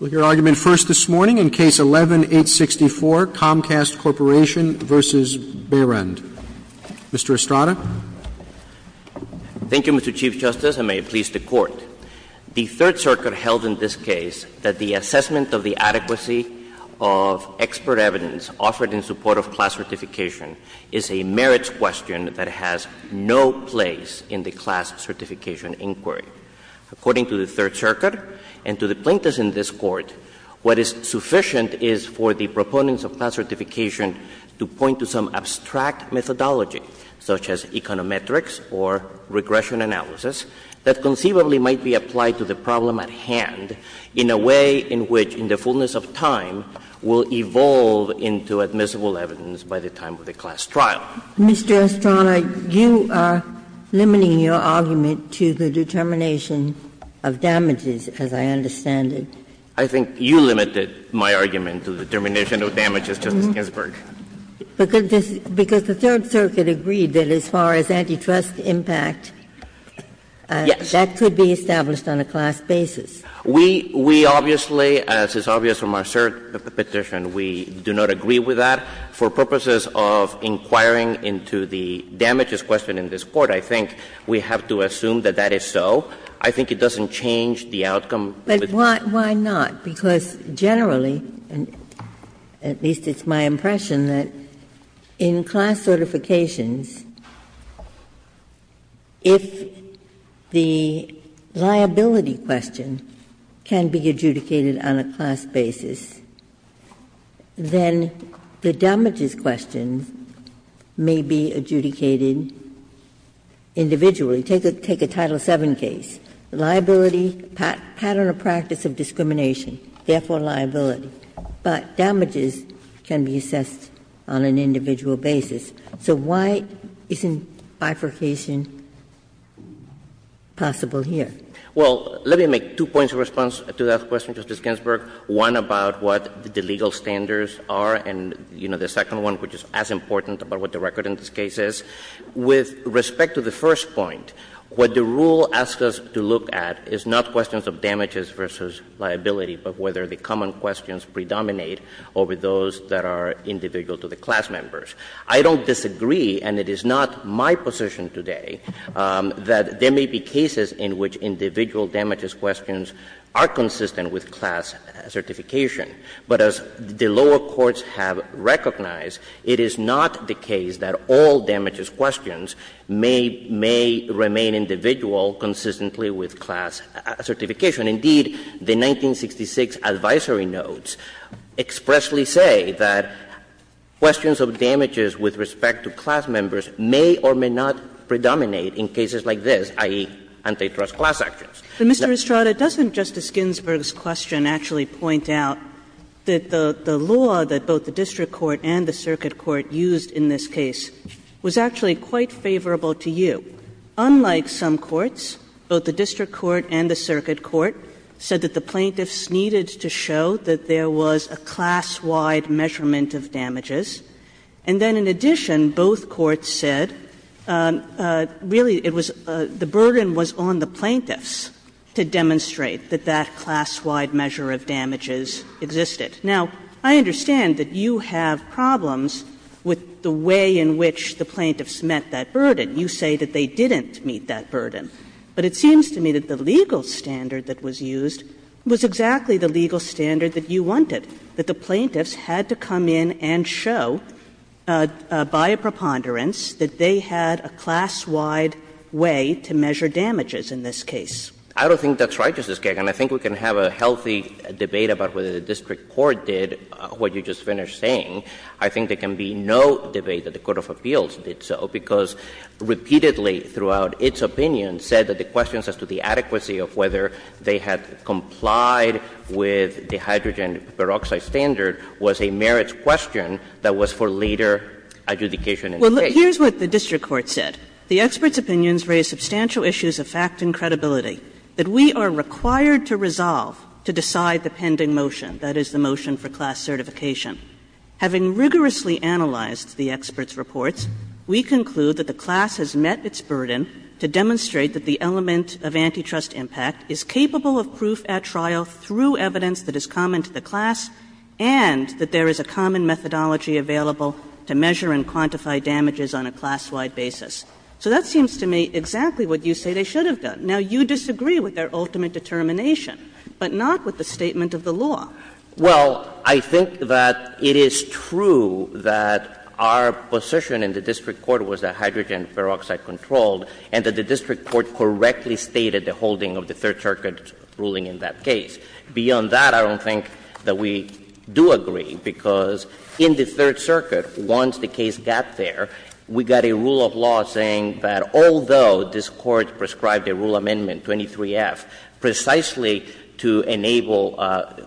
Mr. Estrada. Thank you, Mr. Chief Justice, and may it please the Court. The Third Circuit held in this case that the assessment of the adequacy of expert evidence offered in support of class certification is a merits question that has no place in the class certification inquiry. According to the Third Circuit, the adequacy in this Court, what is sufficient is for the proponents of class certification to point to some abstract methodology, such as econometrics or regression analysis, that conceivably might be applied to the problem at hand in a way in which, in the fullness of time, will evolve into admissible evidence by the time of the class trial. Ginsburg. Mr. Estrada, you are limiting your argument to the determination of damages, as I understand it. I think you limited my argument to the determination of damages, Justice Ginsburg. Because the Third Circuit agreed that as far as antitrust impact, that could be established on a class basis. We obviously, as is obvious from our cert petition, we do not agree with that. For purposes of inquiring into the damages question in this Court, I think we have to assume that that is so. I think it doesn't change the outcome. Ginsburg. But why not? Because generally, at least it's my impression, that in class certifications, if the liability question can be adjudicated on a class basis, then the damages question may be adjudicated individually. Take a Title VII case. Liability, pattern of practice of discrimination, therefore liability. But damages can be assessed on an individual basis. So why isn't bifurcation possible here? Well, let me make two points of response to that question, Justice Ginsburg. One about what the legal standards are, and, you know, the second one, which is as important about what the record in this case is. With respect to the first point, what the rule asks us to look at is not questions of damages versus liability, but whether the common questions predominate over those that are individual to the class members. I don't disagree, and it is not my position today, that there may be cases in which individual damages questions are consistent with class certification. But as the lower courts have recognized, it is not the case that all damages questions may remain individual consistently with class certification. Indeed, the 1966 advisory notes expressly say that questions of damages with respect to class members may or may not predominate in cases like this, i.e., antitrust acts. But, Mr. Estrada, doesn't Justice Ginsburg's question actually point out that the law that both the district court and the circuit court used in this case was actually quite favorable to you. Unlike some courts, both the district court and the circuit court said that the plaintiffs needed to show that there was a class-wide measurement of damages, and then in addition both courts said, really, it was the burden was on the plaintiffs to demonstrate that that class-wide measure of damages existed. Now, I understand that you have problems with the way in which the plaintiffs met that burden. You say that they didn't meet that burden. But it seems to me that the legal standard that was used was exactly the legal standard that you wanted, that the plaintiffs had to come in and show, by a preponderance, that they had a class-wide way to measure damages in this case. Estrada, I don't think that's right, Justice Kagan. I think we can have a healthy debate about whether the district court did what you just finished saying. I think there can be no debate that the court of appeals did so, because repeatedly throughout its opinion said that the questions as to the adequacy of whether they had complied with the hydrogen peroxide standard was a merits question that was for later adjudication in the case. Kagan. Well, look, here's what the district court said. The experts' opinions raise substantial issues of fact and credibility that we are required to resolve to decide the pending motion, that is, the motion for class certification. Having rigorously analyzed the experts' reports, we conclude that the class has met its burden to demonstrate that the element of antitrust impact is capable of proof at trial through evidence that is common to the class, and that there is a common methodology available to measure and quantify damages on a class-wide basis. So that seems to me exactly what you say they should have done. Now, you disagree with their ultimate determination, but not with the statement of the law. Well, I think that it is true that our position in the district court was that hydrogen peroxide was controlled and that the district court correctly stated the holding of the Third Circuit's ruling in that case. Beyond that, I don't think that we do agree, because in the Third Circuit, once the case got there, we got a rule of law saying that although this Court prescribed a rule amendment, 23F, precisely to enable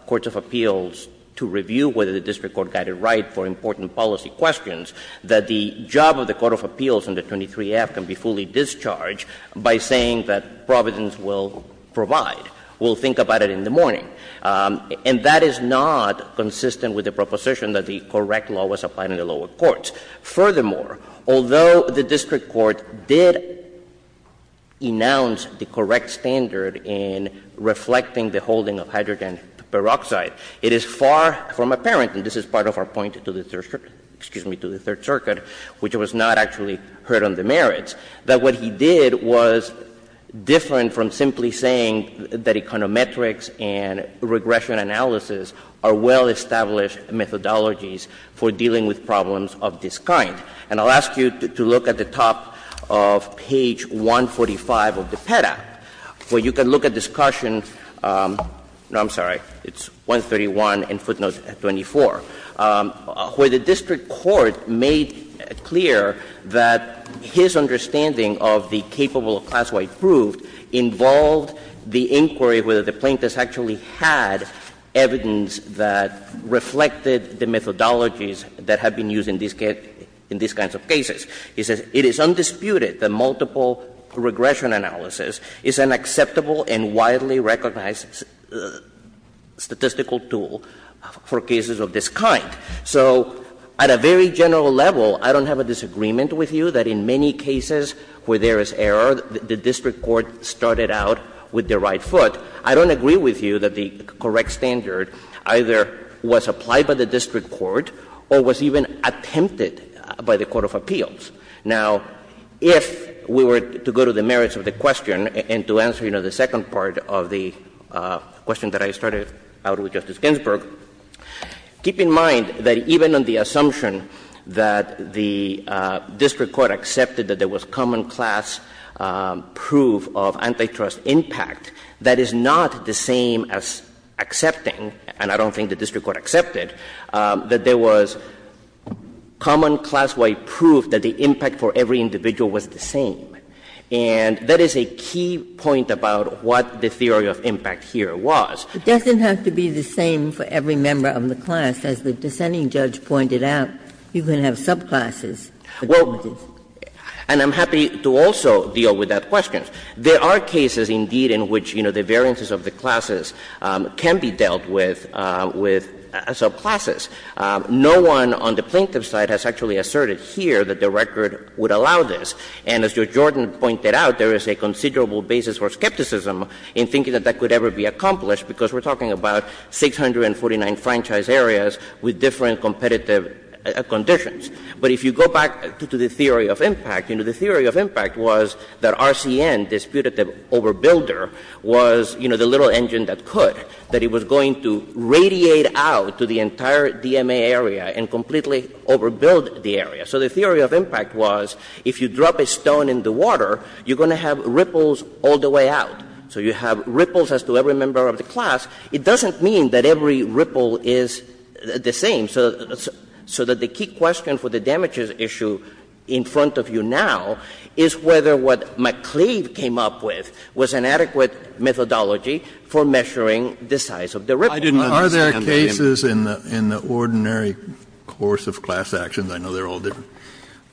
courts of appeals to review whether the district court got it right for important policy questions, that the job of the court of appeals in the 23F can be fully discharged by saying that Providence will provide. We'll think about it in the morning. And that is not consistent with the proposition that the correct law was applied in the lower courts. Furthermore, although the district court did announce the correct standard in reflecting the holding of hydrogen peroxide, it is far from apparent, and this is part of our point to the Third Circuit, which was not actually heard on the merits, that what he did was different from simply saying that econometrics and regression analysis are well-established methodologies for dealing with problems of this kind. And I'll ask you to look at the top of page 145 of the PEDA, where you can look at discussion — no, I'm sorry, it's 131 and footnote 24. Where the district court made clear that his understanding of the capable of class-wide proof involved the inquiry whether the plaintiffs actually had evidence that reflected the methodologies that have been used in these kinds of cases. It says, It is undisputed that multiple regression analysis is an acceptable and widely applicable method for dealing with problems of this kind. So at a very general level, I don't have a disagreement with you that in many cases where there is error, the district court started out with the right foot. I don't agree with you that the correct standard either was applied by the district court or was even attempted by the court of appeals. Now, if we were to go to the merits of the question and to answer, you know, the second part of the question that I started out with, Justice Ginsburg, keep in mind that even on the assumption that the district court accepted that there was common class proof of antitrust impact, that is not the same as accepting, and I don't think the district court accepted, that there was common class-wide proof that the impact for every individual was the same. And that is a key point about what the theory of impact here was. It doesn't have to be the same for every member of the class. As the dissenting judge pointed out, you can have subclasses. Well, and I'm happy to also deal with that question. There are cases, indeed, in which, you know, the variances of the classes can be dealt with with subclasses. No one on the plaintiff's side has actually asserted here that the record would allow this. And as Judge Jordan pointed out, there is a considerable basis for skepticism in thinking that that could ever be accomplished, because we're talking about 649 franchise areas with different competitive conditions. But if you go back to the theory of impact, you know, the theory of impact was that RCN disputed that Overbuilder was, you know, the little engine that could, that it was going to radiate out to the entire DMA area and completely overbuild the area. So the theory of impact was, if you drop a stone in the water, you're going to have ripples all the way out. So you have ripples as to every member of the class. It doesn't mean that every ripple is the same. So that the key question for the damages issue in front of you now is whether what McCleave came up with was an adequate methodology for measuring the size of the ripple. Kennedy, are there cases in the ordinary course of class actions, I know they're all different,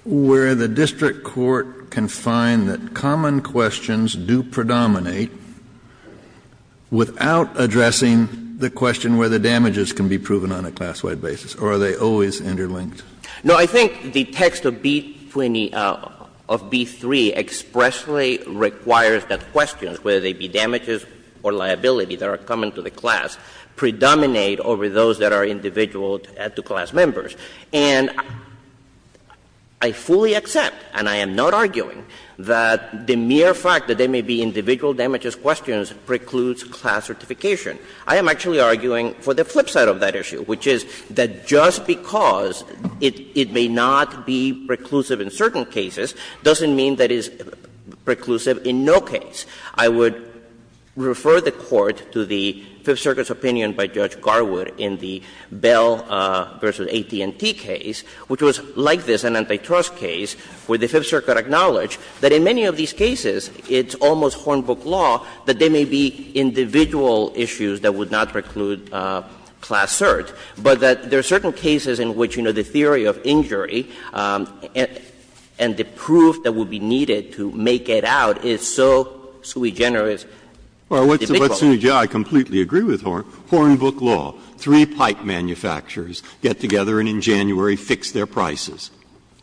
where the district court can find that common questions do predominate without addressing the question where the damages can be proven on a class-wide basis, or are they always interlinked? No, I think the text of B-20, of B-3 expressly requires that questions, whether they be damages or liability, that are common to the class, predominate over those that are individual to class members. And I fully accept, and I am not arguing, that the mere fact that there may be individual damages questions precludes class certification. I am actually arguing for the flip side of that issue, which is that just because it may not be preclusive in certain cases doesn't mean that it's preclusive in no case. I would refer the Court to the Fifth Circuit's opinion by Judge Garwood in the Bell v. AT&T case, which was like this, an antitrust case, where the Fifth Circuit acknowledged that in many of these cases it's almost Hornbook law that there may be individual issues that would not preclude class cert, but that there are certain cases in which, you know, the theory of injury and the proof that would be needed to make it out is so sui generis. Breyer, I completely agree with Hornbook law. Three pipe manufacturers get together and in January fix their prices.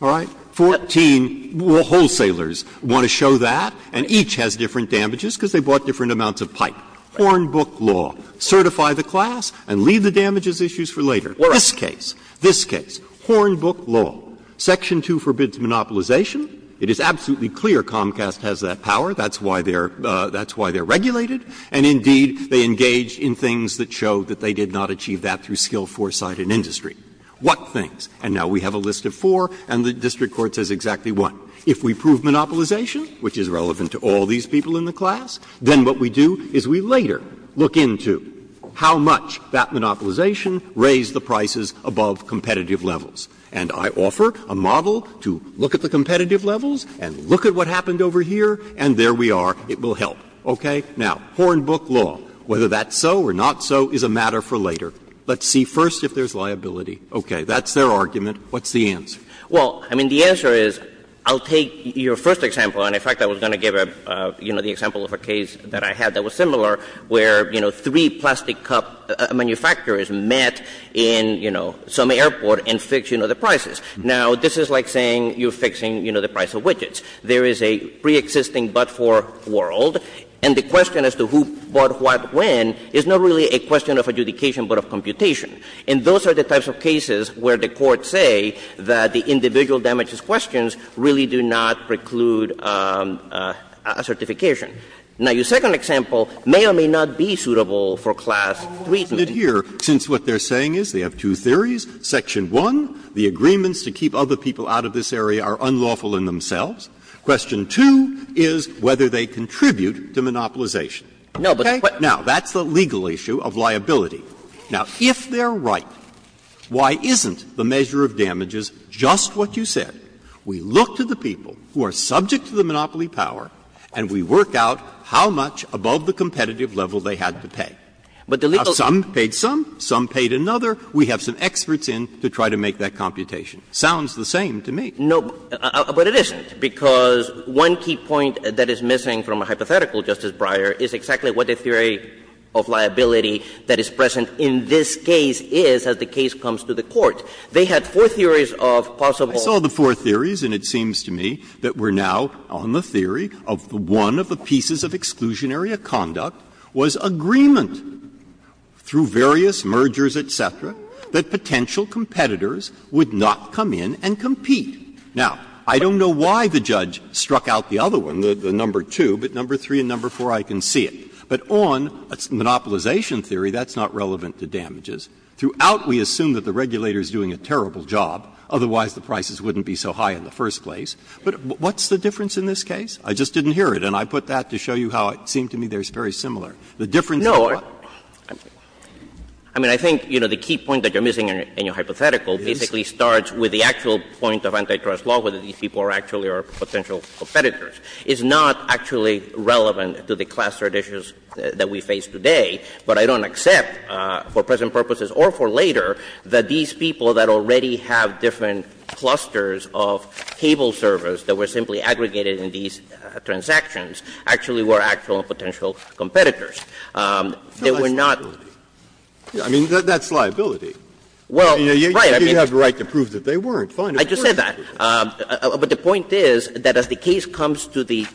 All right? Fourteen wholesalers want to show that, and each has different damages because they bought different amounts of pipe. Hornbook law, certify the class and leave the damages issues for later. This case, this case, Hornbook law, section 2 forbids monopolization. It is absolutely clear Comcast has that power. That's why they're regulated, and indeed, they engaged in things that showed that they did not achieve that through skill, foresight, and industry. What things? And now we have a list of four, and the district court says exactly one. If we prove monopolization, which is relevant to all these people in the class, then what we do is we later look into how much that monopolization raised the prices above competitive levels. And I offer a model to look at the competitive levels and look at what happened over here, and there we are. It will help. Okay? Now, Hornbook law, whether that's so or not so is a matter for later. Let's see first if there's liability. Okay. That's their argument. What's the answer? Well, I mean, the answer is, I'll take your first example, and in fact, I was going to give a, you know, the example of a case that I had that was similar where, you know, three plastic cup manufacturers met in, you know, some airport and fixed, you know, the prices. Now, this is like saying you're fixing, you know, the price of widgets. There is a preexisting but-for world, and the question as to who bought what when is not really a question of adjudication but of computation. And those are the types of cases where the courts say that the individual damages questions really do not preclude a certification. Now, your second example may or may not be suitable for Class III. Breyer. Here, since what they're saying is they have two theories, section 1, the agreements to keep other people out of this area are unlawful in themselves. Question 2 is whether they contribute to monopolization. Okay? Now, that's the legal issue of liability. Now, if they're right, why isn't the measure of damages just what you said? We look to the people who are subject to the monopoly power and we work out how much above the competitive level they had to pay. Now, some paid some, some paid another. We have some experts in to try to make that computation. Sounds the same to me. No, but it isn't, because one key point that is missing from a hypothetical, Justice Breyer, is exactly what the theory of liability that is present in this case is as the case comes to the court. They had four theories of possible. I saw the four theories, and it seems to me that we're now on the theory of one of the pieces of exclusionary conduct was agreement through various mergers, et cetera, that potential competitors would not come in and compete. Now, I don't know why the judge struck out the other one, the number 2, but number 3 and number 4, I can see it. But on a monopolization theory, that's not relevant to damages. Throughout, we assume that the regulator is doing a terrible job, otherwise the prices wouldn't be so high in the first place. But what's the difference in this case? I just didn't hear it, and I put that to show you how it seemed to me they're very similar. The difference is what? No. I mean, I think, you know, the key point that you're missing in your hypothetical basically starts with the actual point of antitrust law, whether these people are actually or potential competitors, is not actually relevant to the clustered issues that we face today. But I don't accept, for present purposes or for later, that these people that already have different clusters of cable servers that were simply aggregated in these transactions actually were actual and potential competitors. They were not. Scalia, I mean, that's liability. Well, you have the right to prove that they weren't. Fine. I just said that. But the point is that as the case comes to the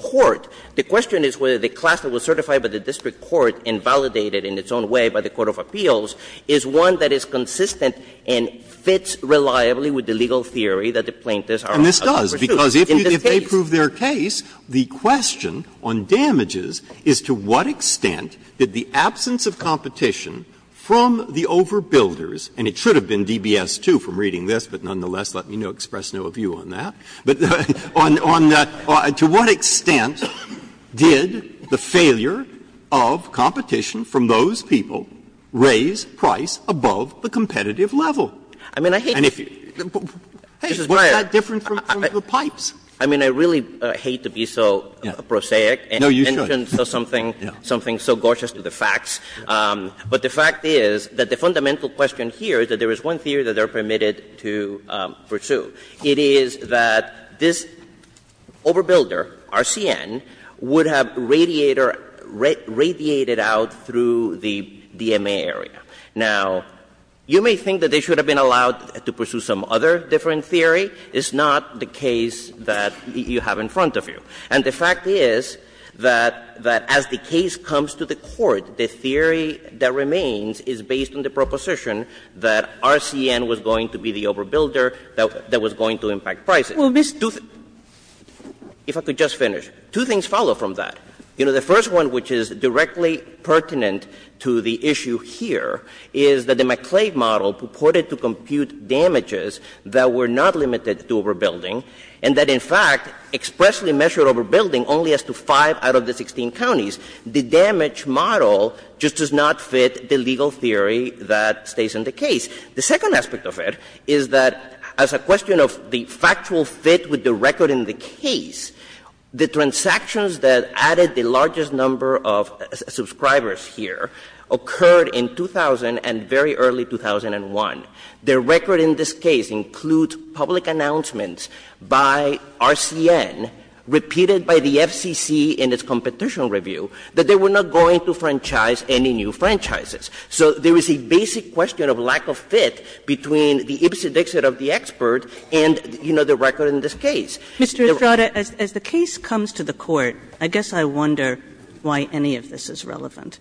court, the question is whether the cluster was certified by the district court and validated in its own way by the court of appeals is one that is consistent and fits reliably with the legal theory that the plaintiffs are pursuing. In this case. Breyer, because if they prove their case, the question on damages is to what extent did the absence of competition from the overbuilders, and it should have been DBS 2 from reading this, but nonetheless, let me express no view on that, but to what extent did the failure of competition from those people raise price above the competitive level? I mean, I hate to be so prosaic and mention something so gorgeous to the facts. But the fact is that the fundamental question here is that there is one theory that they are permitted to pursue. It is that this overbuilder, RCN, would have radiated out through the DMA area. Now, you may think that they should have been allowed to pursue some other different theory. It's not the case that you have in front of you. And the fact is that as the case comes to the court, the theory that remains is based on the proposition that RCN was going to be the overbuilder that was going to impact prices. If I could just finish. Two things follow from that. You know, the first one, which is directly pertinent to the issue here, is that the McClave model purported to compute damages that were not limited to overbuilding and that, in fact, expressly measured overbuilding only as to 5 out of the 16 counties. The damage model just does not fit the legal theory that stays in the case. The second aspect of it is that as a question of the factual fit with the record in the case, the transactions that added the largest number of subscribers here occurred in 2000 and very early 2001. The record in this case includes public announcements by RCN, repeated by the FCC in its competition review, that they were not going to franchise any new franchises. So there is a basic question of lack of fit between the ibsenixit of the expert and, you know, the record in this case. Kagan, Mr. Estrada, as the case comes to the court, I guess I wonder why any of this is relevant.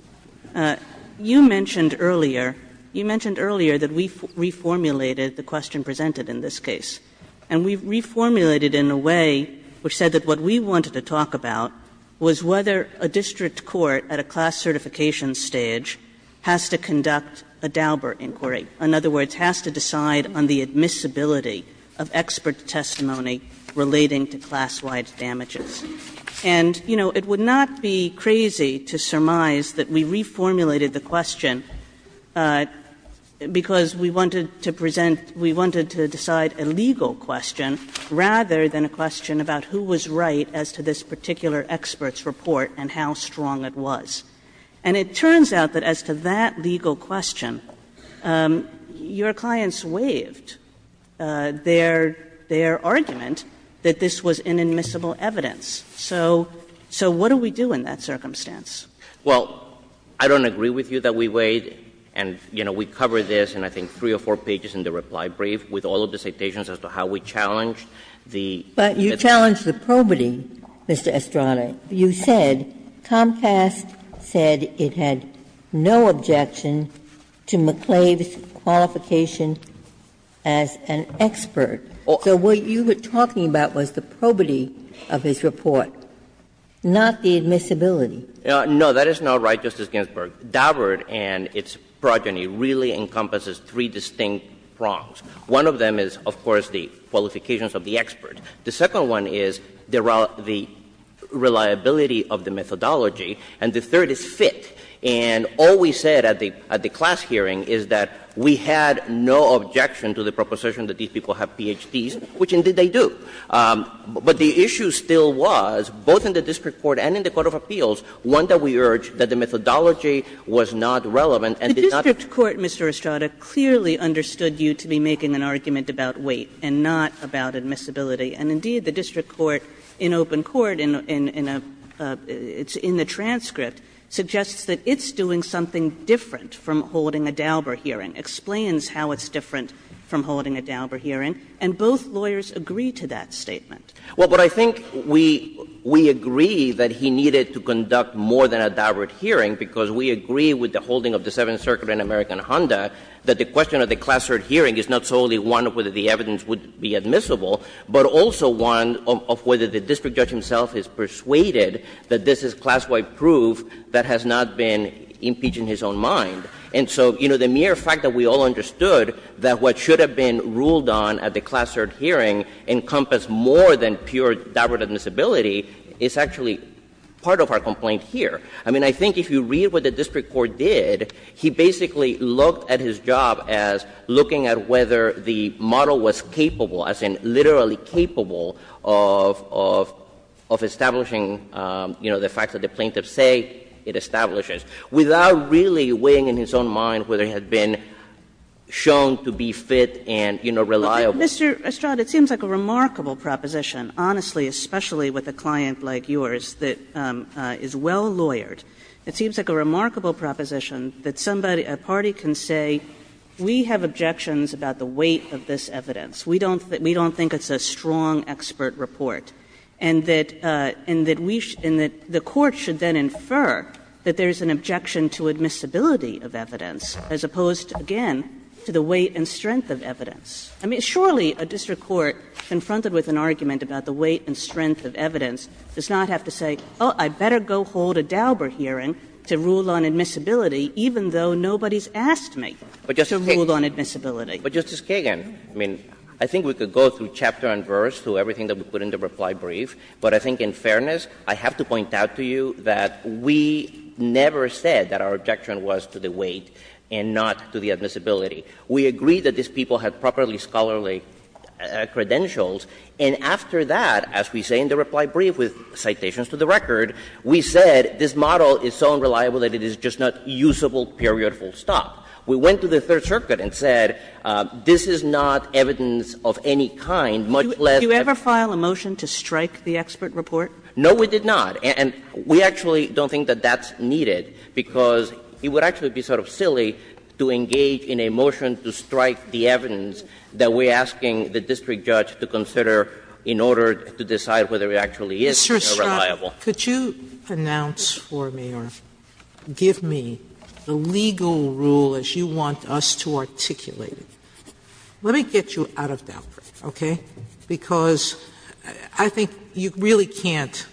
You mentioned earlier, you mentioned earlier that we reformulated the question presented in this case, and we reformulated it in a way which said that what we wanted to talk about was whether a district court at a class certification stage has to conduct a Dauber inquiry. In other words, has to decide on the admissibility of expert testimony relating to class-wide damages. And, you know, it would not be crazy to surmise that we reformulated the question because we wanted to present we wanted to decide a legal question rather than a question about who was right as to this particular expert's report and how strong it was. And it turns out that as to that legal question, your clients waived their argument that this was inadmissible evidence. So what do we do in that circumstance? Estrada, I don't agree with you that we waived, and, you know, we covered this in I think three or four pages in the reply brief with all of the citations as to how we challenged the expert testimony. But you challenged the probity, Mr. Estrada. You said Comcast said it had no objection to McClave's qualification as an expert. So what you were talking about was the probity of his report, not the admissibility. No, that is not right, Justice Ginsburg. Daubert and its progeny really encompasses three distinct prongs. One of them is, of course, the qualifications of the expert. The second one is the reliability of the methodology. And the third is fit. And all we said at the class hearing is that we had no objection to the proposition that these people have Ph.D.s, which indeed they do. But the issue still was, both in the district court and in the court of appeals, one that we urge that the methodology was not relevant and did not ---- Kagan is making an argument about weight and not about admissibility. And indeed, the district court in open court in a ---- it's in the transcript suggests that it's doing something different from holding a Daubert hearing, explains how it's different from holding a Daubert hearing, and both lawyers agree to that statement. Well, but I think we ---- we agree that he needed to conduct more than a Daubert hearing because we agree with the holding of the Seventh Circuit in American Rwanda that the question of the class third hearing is not solely one of whether the evidence would be admissible, but also one of whether the district judge himself is persuaded that this is class-wide proof that has not been impeached in his own mind. And so, you know, the mere fact that we all understood that what should have been ruled on at the class third hearing encompassed more than pure Daubert admissibility is actually part of our complaint here. I mean, I think if you read what the district court did, he basically looked at his job as looking at whether the model was capable, as in literally capable, of establishing the fact that the plaintiffs say it establishes, without really weighing in his own mind whether he had been shown to be fit and, you know, reliable. Kagan, it seems like a remarkable proposition, honestly, especially with a client like yours that is well-lawyered. It seems like a remarkable proposition that somebody, a party can say, we have objections about the weight of this evidence. We don't think it's a strong expert report, and that we should – and that the court should then infer that there is an objection to admissibility of evidence, as opposed, again, to the weight and strength of evidence. I mean, surely a district court confronted with an argument about the weight and strength of evidence does not have to say, oh, I better go hold a Dauber hearing to rule on admissibility, even though nobody has asked me to rule on admissibility. But, Justice Kagan, I mean, I think we could go through chapter and verse, through everything that we put in the reply brief, but I think, in fairness, I have to point out to you that we never said that our objection was to the weight and not to the admissibility. We agreed that these people had properly scholarly credentials, and after that, as we say in the reply brief with citations to the record, we said this model is so unreliable that it is just not usable period full stop. We went to the Third Circuit and said, this is not evidence of any kind, much less that the expert report. Kagan. No, we did not, and we actually don't think that that's needed, because it would actually be sort of silly to engage in a motion to strike the evidence that we're Mr. Estrada, could you announce for me or give me the legal rule as you want us to articulate it. Let me get you out of Daubert, okay, because I think you really can't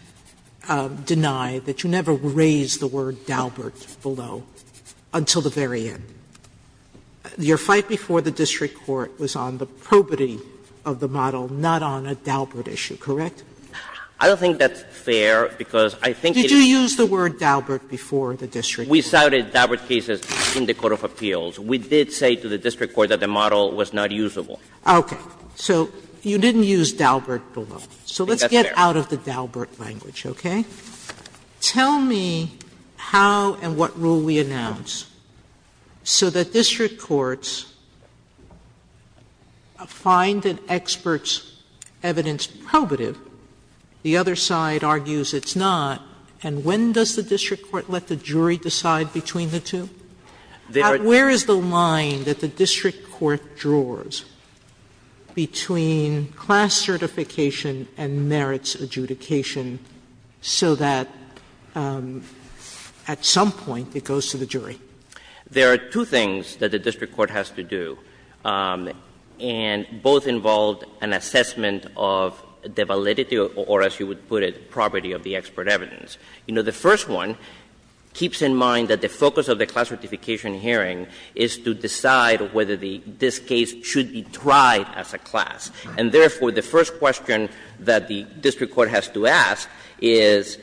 deny that you never raised the word Daubert below until the very end. Your fight before the district court was on the probity of the model, not on a Daubert issue, correct? I don't think that's fair, because I think it is. Did you use the word Daubert before the district court? We cited Daubert cases in the court of appeals. We did say to the district court that the model was not usable. Okay. So you didn't use Daubert below. So let's get out of the Daubert language, okay? Tell me how and what rule we announce so that district courts find an expert's evidence probative, the other side argues it's not, and when does the district court let the jury decide between the two? Where is the line that the district court draws between class certification and merits adjudication so that at some point it goes to the jury? There are two things that the district court has to do, and both involve an assessment of the validity or, as you would put it, probity of the expert evidence. You know, the first one keeps in mind that the focus of the class certification hearing is to decide whether this case should be tried as a class. And therefore, the first question that the district court has to ask is,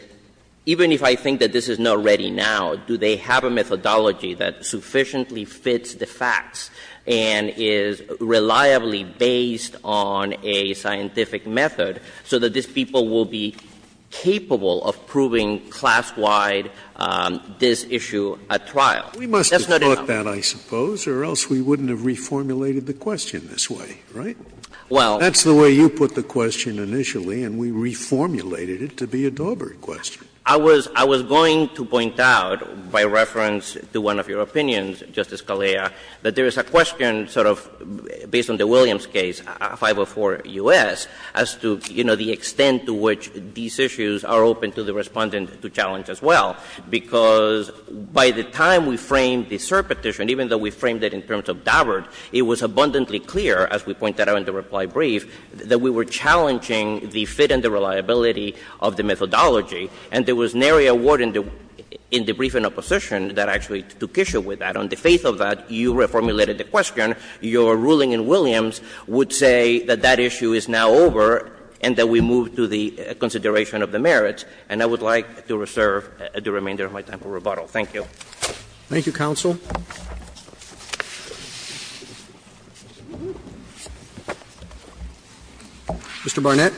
even if I think that this is not ready now, do they have a methodology that sufficiently fits the facts and is reliably based on a scientific method so that these people will be capable of proving class-wide this issue at trial? That's not enough. Scalia. We must have thought that, I suppose, or else we wouldn't have reformulated the question this way, right? That's the way you put the question initially, and we reformulated it to be a Daubert question. I was going to point out, by reference to one of your opinions, Justice Scalia, that there is a question sort of based on the Williams case, 504 U.S., as to, you know, the extent to which these issues are open to the Respondent to challenge as well, because by the time we framed the cert petition, even though we framed it in terms of Daubert, it was abundantly clear, as we pointed out in the reply brief, that we were challenging the fit and the reliability of the methodology, and there was nary a word in the brief in opposition that actually took issue with that. On the face of that, you reformulated the question. Your ruling in Williams would say that that issue is now over and that we move to the consideration of the merits, and I would like to reserve the remainder of my time for rebuttal. Thank you. Roberts. Thank you, counsel. Mr. Barnett.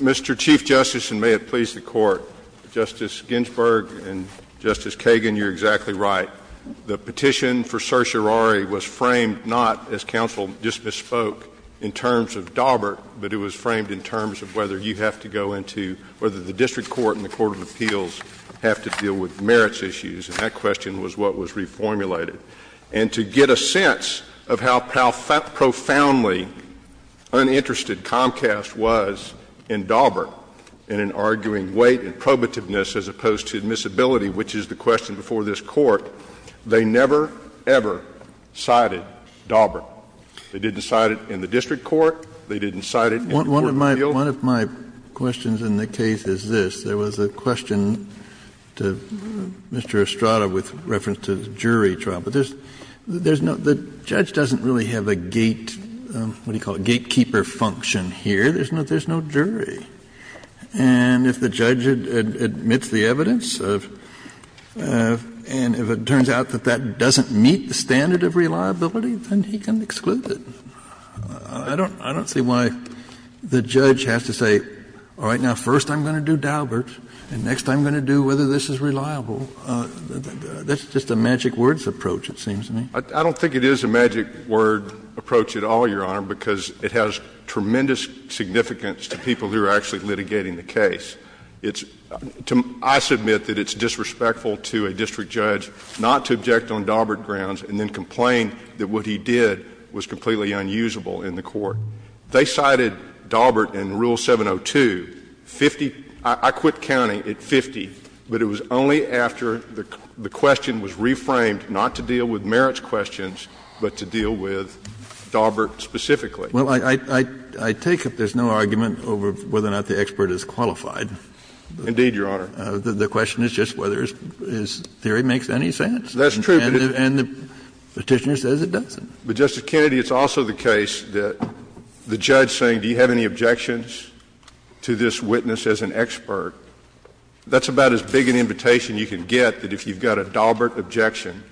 Mr. Chief Justice, and may it please the Court, Justice Ginsburg and Justice Kagan, you're exactly right. The petition for certiorari was framed not, as counsel just bespoke, in terms of Daubert, but it was framed in terms of whether you have to go into, whether the district court and the court of appeals have to deal with merits issues, and that question was what was reformulated. And to get a sense of how profoundly uninterested Comcast was in Daubert, in an arguing weight and probativeness as opposed to admissibility, which is the question before this Court, they never, ever cited Daubert. They didn't cite it in the district court. They didn't cite it in the court of appeals. One of my questions in the case is this. There was a question to Mr. Estrada with reference to jury trial. But there's no, the judge doesn't really have a gate, what do you call it, gatekeeper function here. There's no jury. And if the judge admits the evidence, and if it turns out that that doesn't meet the standard of reliability, then he can exclude it. I don't see why the judge has to say, all right, now, first I'm going to do Daubert, and next I'm going to do whether this is reliable. That's just a magic words approach, it seems to me. I don't think it is a magic word approach at all, Your Honor, because it has tremendous significance to people who are actually litigating the case. It's to my ‑‑ I submit that it's disrespectful to a district judge not to object on Daubert grounds, and then complain that what he did was completely unusable in the court. They cited Daubert in Rule 702, 50 ‑‑ I quit counting at 50, but it was only after the question was reframed not to deal with merits questions, but to deal with Daubert specifically. Well, I take it there's no argument over whether or not the expert is qualified. Indeed, Your Honor. The question is just whether his theory makes any sense. That's true. And the Petitioner says it doesn't. But, Justice Kennedy, it's also the case that the judge saying, do you have any objections to this witness as an expert, that's about as big an invitation you can get that if you've got a Daubert objection,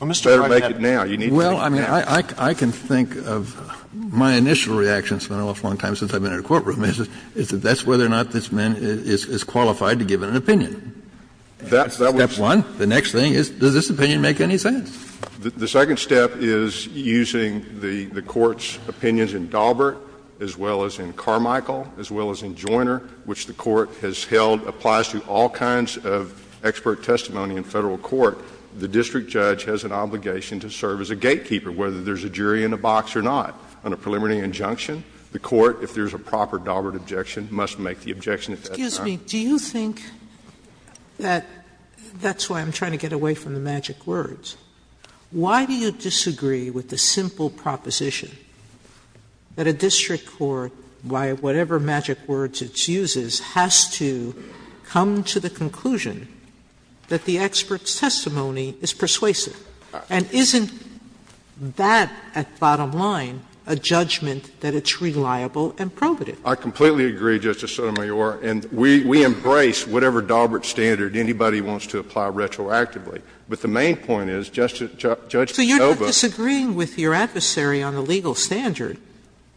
you better make it now. You need to make it now. Well, I mean, I can think of my initial reaction, it's been an awful long time since I've been in a courtroom, is that that's whether or not this man is qualified to give an opinion. That's step one. The next thing is, does this opinion make any sense? The second step is using the Court's opinions in Daubert, as well as in Carmichael, as well as in Joiner, which the Court has held applies to all kinds of expert testimony in Federal court. The district judge has an obligation to serve as a gatekeeper, whether there's a jury in a box or not. On a preliminary injunction, the Court, if there's a proper Daubert objection, must make the objection at that time. Sotomayor, excuse me, do you think that's why I'm trying to get away from the magic words? Why do you disagree with the simple proposition that a district court, by whatever magic words it uses, has to come to the conclusion that the expert's testimony is persuasive? And isn't that, at bottom line, a judgment that it's reliable and probative? I completely agree, Justice Sotomayor, and we embrace whatever Daubert standard anybody wants to apply retroactively. But the main point is, Judge Ovath So you're not disagreeing with your adversary on the legal standard.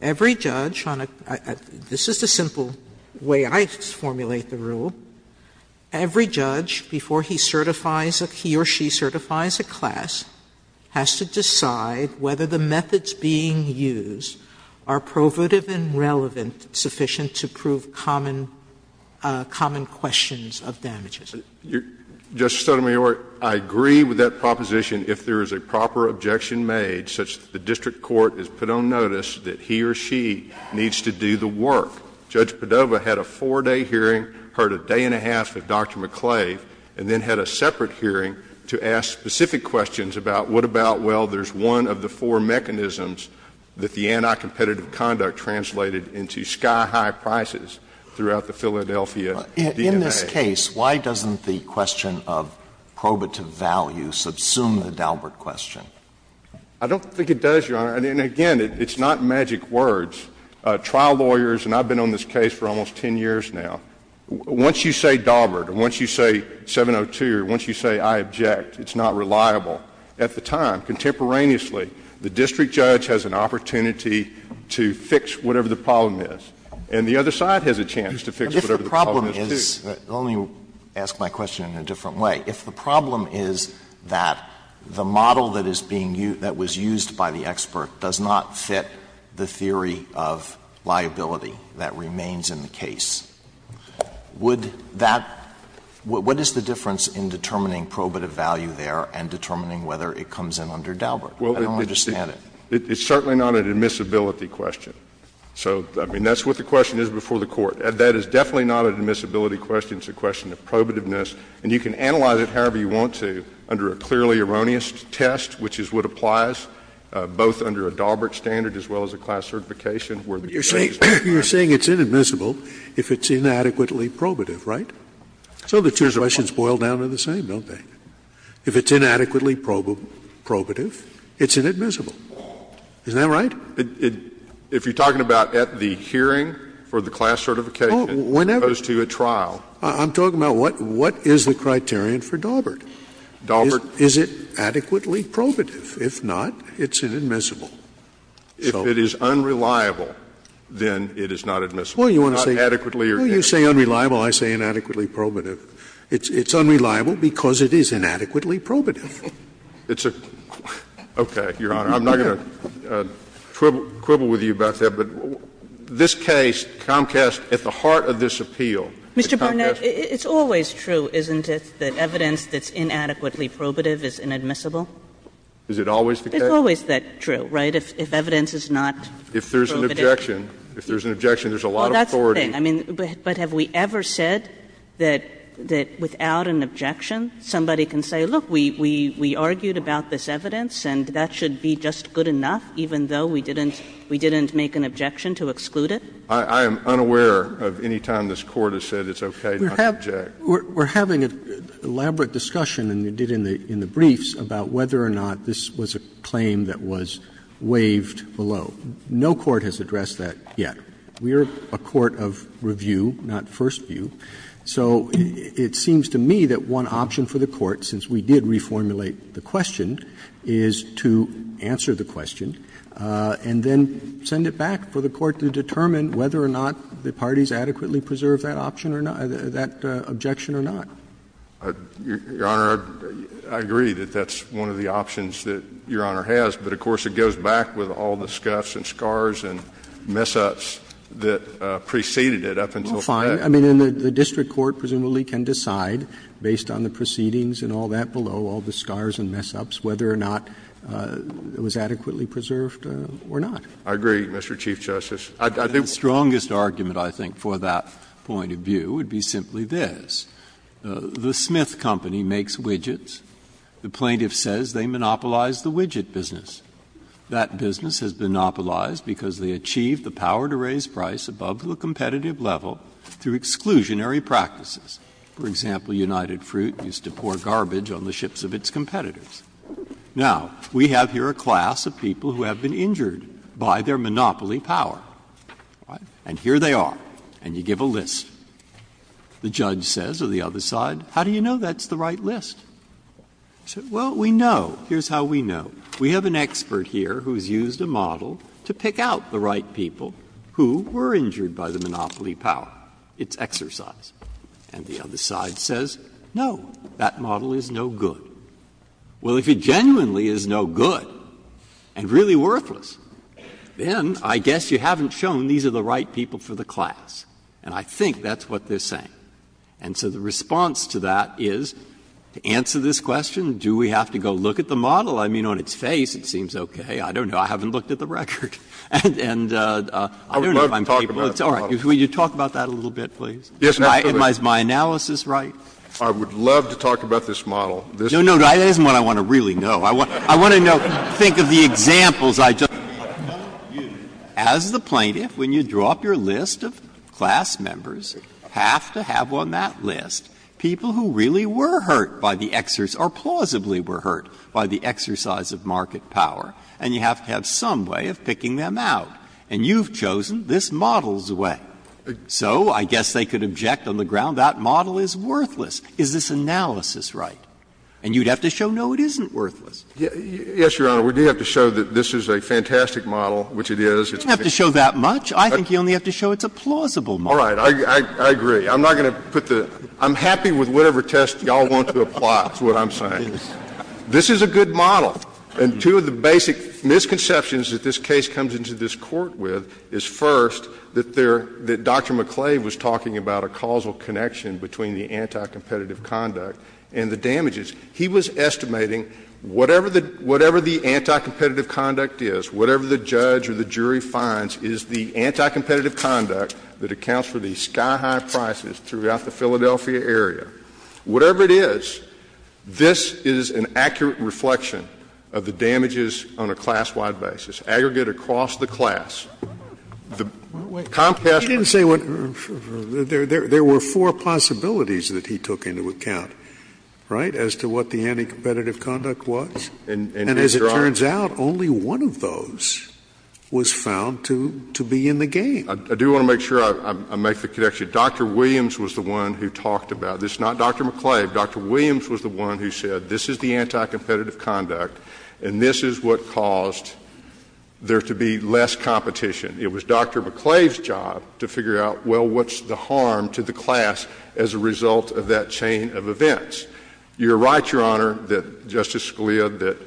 Every judge on a – this is the simple way I formulate the rule. Every judge, before he certifies a – he or she certifies a class, has to decide whether the methods being used are probative and relevant, sufficient to prove common questions of damages. Justice Sotomayor, I agree with that proposition if there is a proper objection made, such that the district court is put on notice that he or she needs to do the work. Judge Padova had a 4-day hearing, heard a day and a half with Dr. McClave, and then had a separate hearing to ask specific questions about what about, well, there's one of the four mechanisms that the anti-competitive conduct translated into sky-high prices throughout the Philadelphia DMA. In this case, why doesn't the question of probative value subsume the Daubert question? I don't think it does, Your Honor. And again, it's not magic words. Trial lawyers, and I've been on this case for almost 10 years now, once you say Daubert or once you say 702 or once you say I object, it's not reliable. At the time, contemporaneously, the district judge has an opportunity to fix whatever the problem is, and the other side has a chance to fix whatever the problem is, too. Alito, let me ask my question in a different way. If the problem is that the model that is being used, that was used by the expert does not fit the theory of liability that remains in the case, would that — what is the difference in determining probative value there and determining whether it comes in under Daubert? I don't understand it. It's certainly not an admissibility question. So, I mean, that's what the question is before the Court. That is definitely not an admissibility question. It's a question of probativeness. And you can analyze it however you want to under a clearly erroneous test, which is what applies both under a Daubert standard as well as a class certification where the case is not— You're saying it's inadmissible if it's inadequately probative, right? Some of the two questions boil down to the same, don't they? If it's inadequately probative, it's inadmissible. Isn't that right? If you're talking about at the hearing for the class certification as opposed to a trial— Whenever. I'm talking about what is the criterion for Daubert. Daubert— Is it adequately probative? If not, it's inadmissible. If it is unreliable, then it is not admissible. Not adequately or— Inadequately probative. It's unreliable because it is inadequately probative. It's a— Okay, Your Honor, I'm not going to quibble with you about that, but this case, Comcast, at the heart of this appeal— Mr. Barnett, it's always true, isn't it, that evidence that's inadequately probative is inadmissible? Is it always the case? It's always true, right, if evidence is not probative? If there's an objection, if there's an objection, there's a lot of authority. I mean, but have we ever said that without an objection, somebody can say, look, we argued about this evidence and that should be just good enough, even though we didn't make an objection to exclude it? I am unaware of any time this Court has said it's okay not to object. We're having an elaborate discussion, and you did in the briefs, about whether or not this was a claim that was waived below. No court has addressed that yet. We are a court of review, not first view. So it seems to me that one option for the Court, since we did reformulate the question, is to answer the question and then send it back for the Court to determine whether or not the parties adequately preserved that option or not, that objection or not. Barnett, I agree that that's one of the options that Your Honor has, but of course it goes back with all the scuffs and scars and mess-ups that preceded it up until that. Roberts Well, fine. I mean, the district court presumably can decide, based on the proceedings and all that below, all the scars and mess-ups, whether or not it was adequately preserved or not. Barnett, I agree, Mr. Chief Justice. I think the strongest argument, I think, for that point of view would be simply this. The Smith Company makes widgets. The plaintiff says they monopolize the widget business. That business has monopolized because they achieved the power to raise price above the competitive level through exclusionary practices. For example, United Fruit used to pour garbage on the ships of its competitors. Now, we have here a class of people who have been injured by their monopoly power. And here they are, and you give a list. The judge says, or the other side, how do you know that's the right list? Well, we know. Here's how we know. We have an expert here who has used a model to pick out the right people who were injured by the monopoly power. It's exercise. And the other side says, no, that model is no good. Well, if it genuinely is no good and really worthless, then I guess you haven't shown these are the right people for the class. And I think that's what they're saying. And so the response to that is, to answer this question, do we have to go look at the class model? Breyer, I don't know if I'm capable of talking about this model. If you look at his face, it seems okay. I don't know. I haven't looked at the record. And I don't know if I'm capable of talking about this model. Scalia, will you talk about that a little bit, please? Scalia, is my analysis right? Scalia, I would love to talk about this model. Breyer, no, no, that isn't what I want to really know. I want to know, think of the examples I just gave. You have to have some way of picking them out. And you've chosen this model's way. So I guess they could object on the ground that model is worthless. Is this analysis right? And you'd have to show, no, it isn't worthless. Yes, Your Honor, we do have to show that this is a fantastic model, which it is. You don't have to show that much. I think you only have to show it's a plausible model. All right. I agree. I'm not going to put the — I'm happy with whatever test you all want to apply, is what I'm saying. This is a good model. And two of the basic misconceptions that this case comes into this Court with is, first, that there — that Dr. McClave was talking about a causal connection between the anti-competitive conduct and the damages. He was estimating whatever the — whatever the anti-competitive conduct is, whatever the judge or the jury finds is the anti-competitive conduct that accounts for the sky-high prices throughout the Philadelphia area. Whatever it is, this is an accurate reflection of the damages on a class-wide basis, aggregate across the class. The Comcast or the other. Scalia. He didn't say what — there were four possibilities that he took into account, right, as to what the anti-competitive conduct was. And as it turns out, only one of those was found to be in the game. I do want to make sure I make the connection. Dr. Williams was the one who talked about this. Not Dr. McClave. Dr. Williams was the one who said, this is the anti-competitive conduct, and this is what caused there to be less competition. It was Dr. McClave's job to figure out, well, what's the harm to the class as a result of that chain of events. You're right, Your Honor, that Justice Scalia, that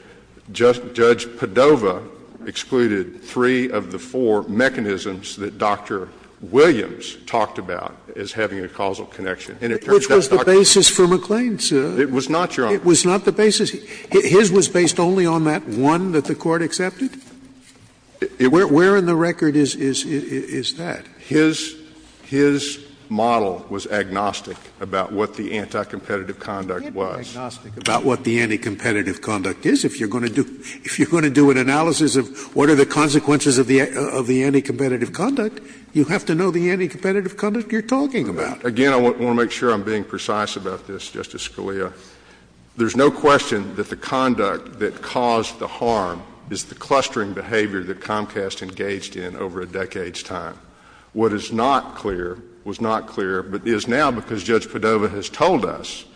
Judge Padova excluded three of the four mechanisms that Dr. Williams talked about as having a causal connection. And it turns out that's not true. Scalia Which was the basis for McClain's? It was not, Your Honor. Scalia It was not the basis. His was based only on that one that the Court accepted? Where in the record is that? His model was agnostic about what the anti-competitive conduct was. Scalia It can't be agnostic about what the anti-competitive conduct is. If you're going to do an analysis of what are the consequences of the anti-competitive conduct, you have to know the anti-competitive conduct you're talking about. Again, I want to make sure I'm being precise about this, Justice Scalia. There's no question that the conduct that caused the harm is the clustering behavior that Comcast engaged in over a decade's time. What is not clear was not clear, but is now, because Judge Padova has told us,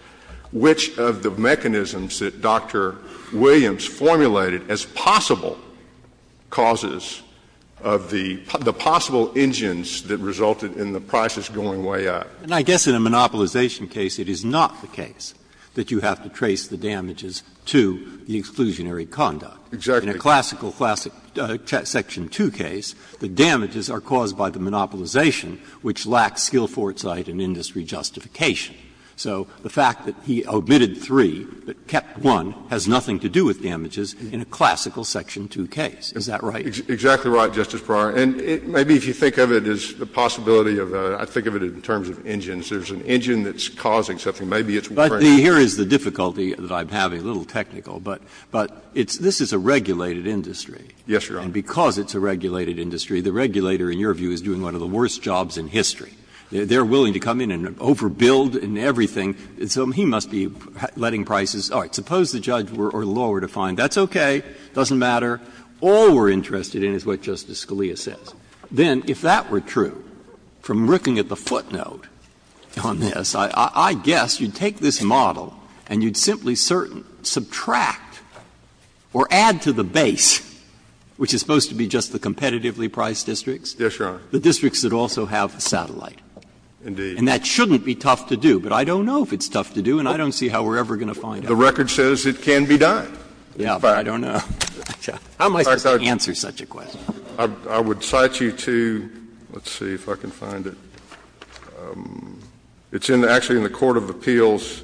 which of the mechanisms that Dr. Williams formulated as possible causes of the possible engines that resulted in the process going way up. Breyer And I guess in a monopolization case, it is not the case that you have to trace the damages to the exclusionary conduct. Scalia Exactly. Breyer In a classical section 2 case, the damages are caused by the monopolization, which lacks skill foresight and industry justification. So the fact that he omitted 3 but kept 1 has nothing to do with damages in a classical section 2 case, is that right? Scalia Exactly right, Justice Breyer. And maybe if you think of it as the possibility of a – I think of it in terms of engines. There's an engine that's causing something. Maybe it's a crane. Breyer But here is the difficulty that I'm having, a little technical, but this is a regulated industry. Scalia Yes, Your Honor. Breyer And because it's a regulated industry, the regulator, in your view, is doing one of the worst jobs in history. They're willing to come in and overbuild and everything, so he must be letting prices. All right. Suppose the judge or the law were to find, that's okay, doesn't matter, all we're interested in is what Justice Scalia says, then if that were true, from looking at the footnote on this, I guess you'd take this model and you'd simply subtract or add to the base, which is supposed to be just the competitively priced districts, the districts that also have a satellite. And that shouldn't be tough to do, but I don't know if it's tough to do and I don't see how we're ever going to find out. Scalia The record says it can be done. Breyer Yeah, but I don't know. How am I supposed to answer such a question? Scalia I would cite you to, let's see if I can find it. It's actually in the Court of Appeals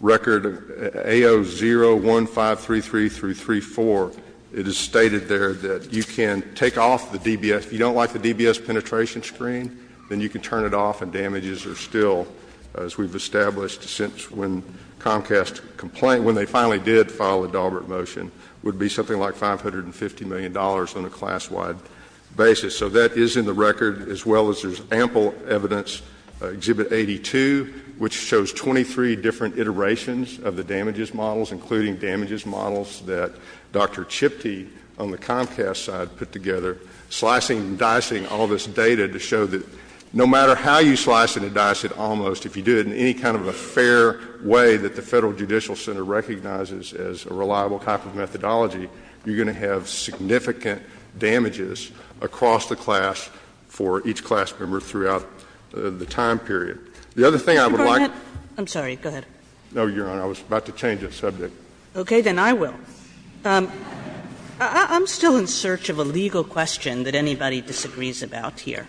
record, AO 01533-34. It is stated there that you can take off the DBS. If you don't like the DBS penetration screen, then you can turn it off and damages are still, as we've established, since when Comcast complained, when they finally did file the Daubert motion, would be something like $550 million on a class-wide basis. So that is in the record, as well as there's ample evidence, Exhibit 82, which shows 23 different iterations of the damages models, including damages models that Dr. Chiptie on the Comcast side put together, slicing and dicing all this data to show that no matter how you slice and dice it, almost, if you do it in any kind of a fair way that the Federal Judicial Center recognizes as a reliable type of methodology, you're going to have significant damages across the class for each class member throughout the time period. The other thing I would like to say to you, Justice Sotomayor, I'm sorry, go ahead. Scalia No, Your Honor, I was about to change the subject. Kagan Okay. Then I will. I'm still in search of a legal question that anybody disagrees about here.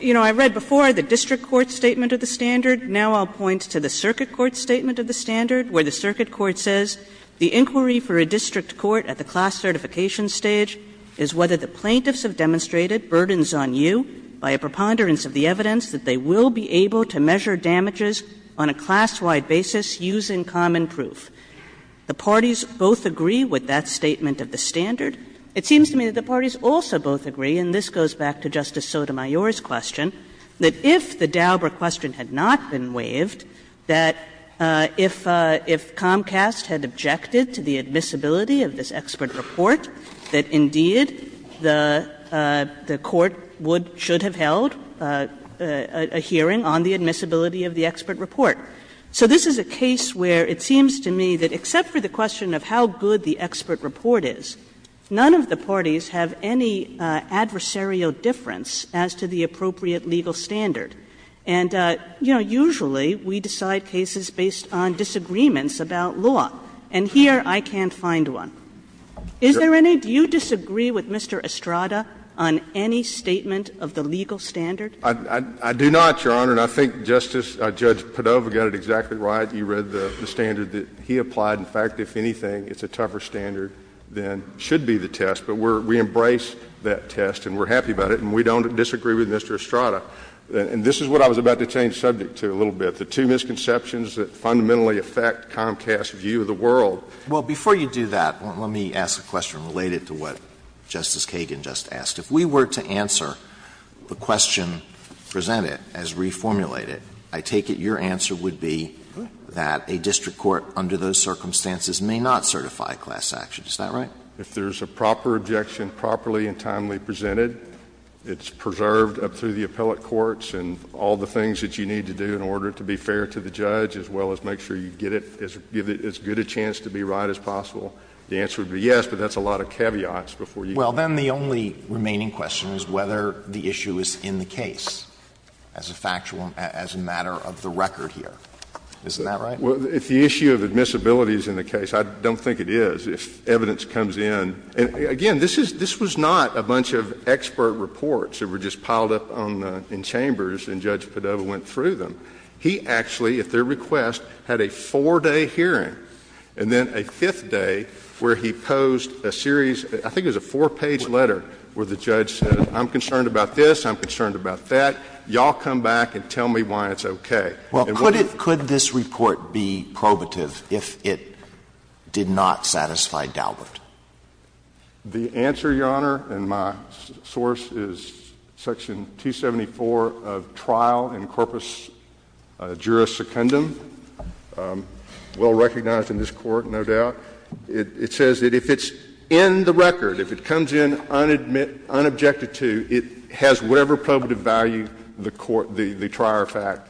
You know, I read before the district court statement of the standard. Now I'll point to the circuit court statement of the standard, where the circuit court says the inquiry for a district court at the class certification stage is whether the plaintiffs have demonstrated burdens on you by a preponderance of the evidence that they will be able to measure damages on a class-wide basis using common proof. The parties both agree with that statement of the standard. It seems to me that the parties also both agree, and this goes back to Justice Sotomayor's question, that if the Dauber question had not been waived, that if Comcast had objected to the admissibility of this expert report, that indeed the court would or should have held a hearing on the admissibility of the expert report. So this is a case where it seems to me that except for the question of how good the expert report is, none of the parties have any adversarial difference as to the appropriate legal standard. And, you know, usually we decide cases based on disagreements about law, and here I can't find one. Is there any? Do you disagree with Mr. Estrada on any statement of the legal standard? I do not, Your Honor, and I think Justice — Judge Padova got it exactly right. You read the standard that he applied. In fact, if anything, it's a tougher standard than should be the test, but we embrace that test and we're happy about it and we don't disagree with Mr. Estrada. And this is what I was about to change the subject to a little bit, the two misconceptions that fundamentally affect Comcast's view of the world. Well, before you do that, let me ask a question related to what Justice Kagan just asked. If we were to answer the question presented as reformulated, I take it your answer would be that a district court under those circumstances may not certify a class action, is that right? If there's a proper objection, properly and timely presented, it's preserved up through the appellate courts and all the things that you need to do in order to be fair to the judge, as well as make sure you get it — give it as good a chance to be right as possible, the answer would be yes, but that's a lot of caveats before you go. Well, then the only remaining question is whether the issue is in the case, as a factual problem, as a matter of the record here. Isn't that right? Well, if the issue of admissibility is in the case, I don't think it is. If evidence comes in — and again, this is — this was not a bunch of expert reports that were just piled up on the — in chambers and Judge Padova went through them. He actually, at their request, had a four-day hearing and then a fifth day where he posed a series — I think it was a four-page letter where the judge said, I'm concerned about this, I'm concerned about that. Y'all come back and tell me why it's okay. Well, could it — could this report be probative if it did not satisfy Daubert? The answer, Your Honor, and my source is Section 274 of Trial in Corpus Juris Secundum, well recognized in this Court, no doubt. It says that if it's in the record, if it comes in unadmitted — unobjected to, it has whatever probative value the court, the trier of fact,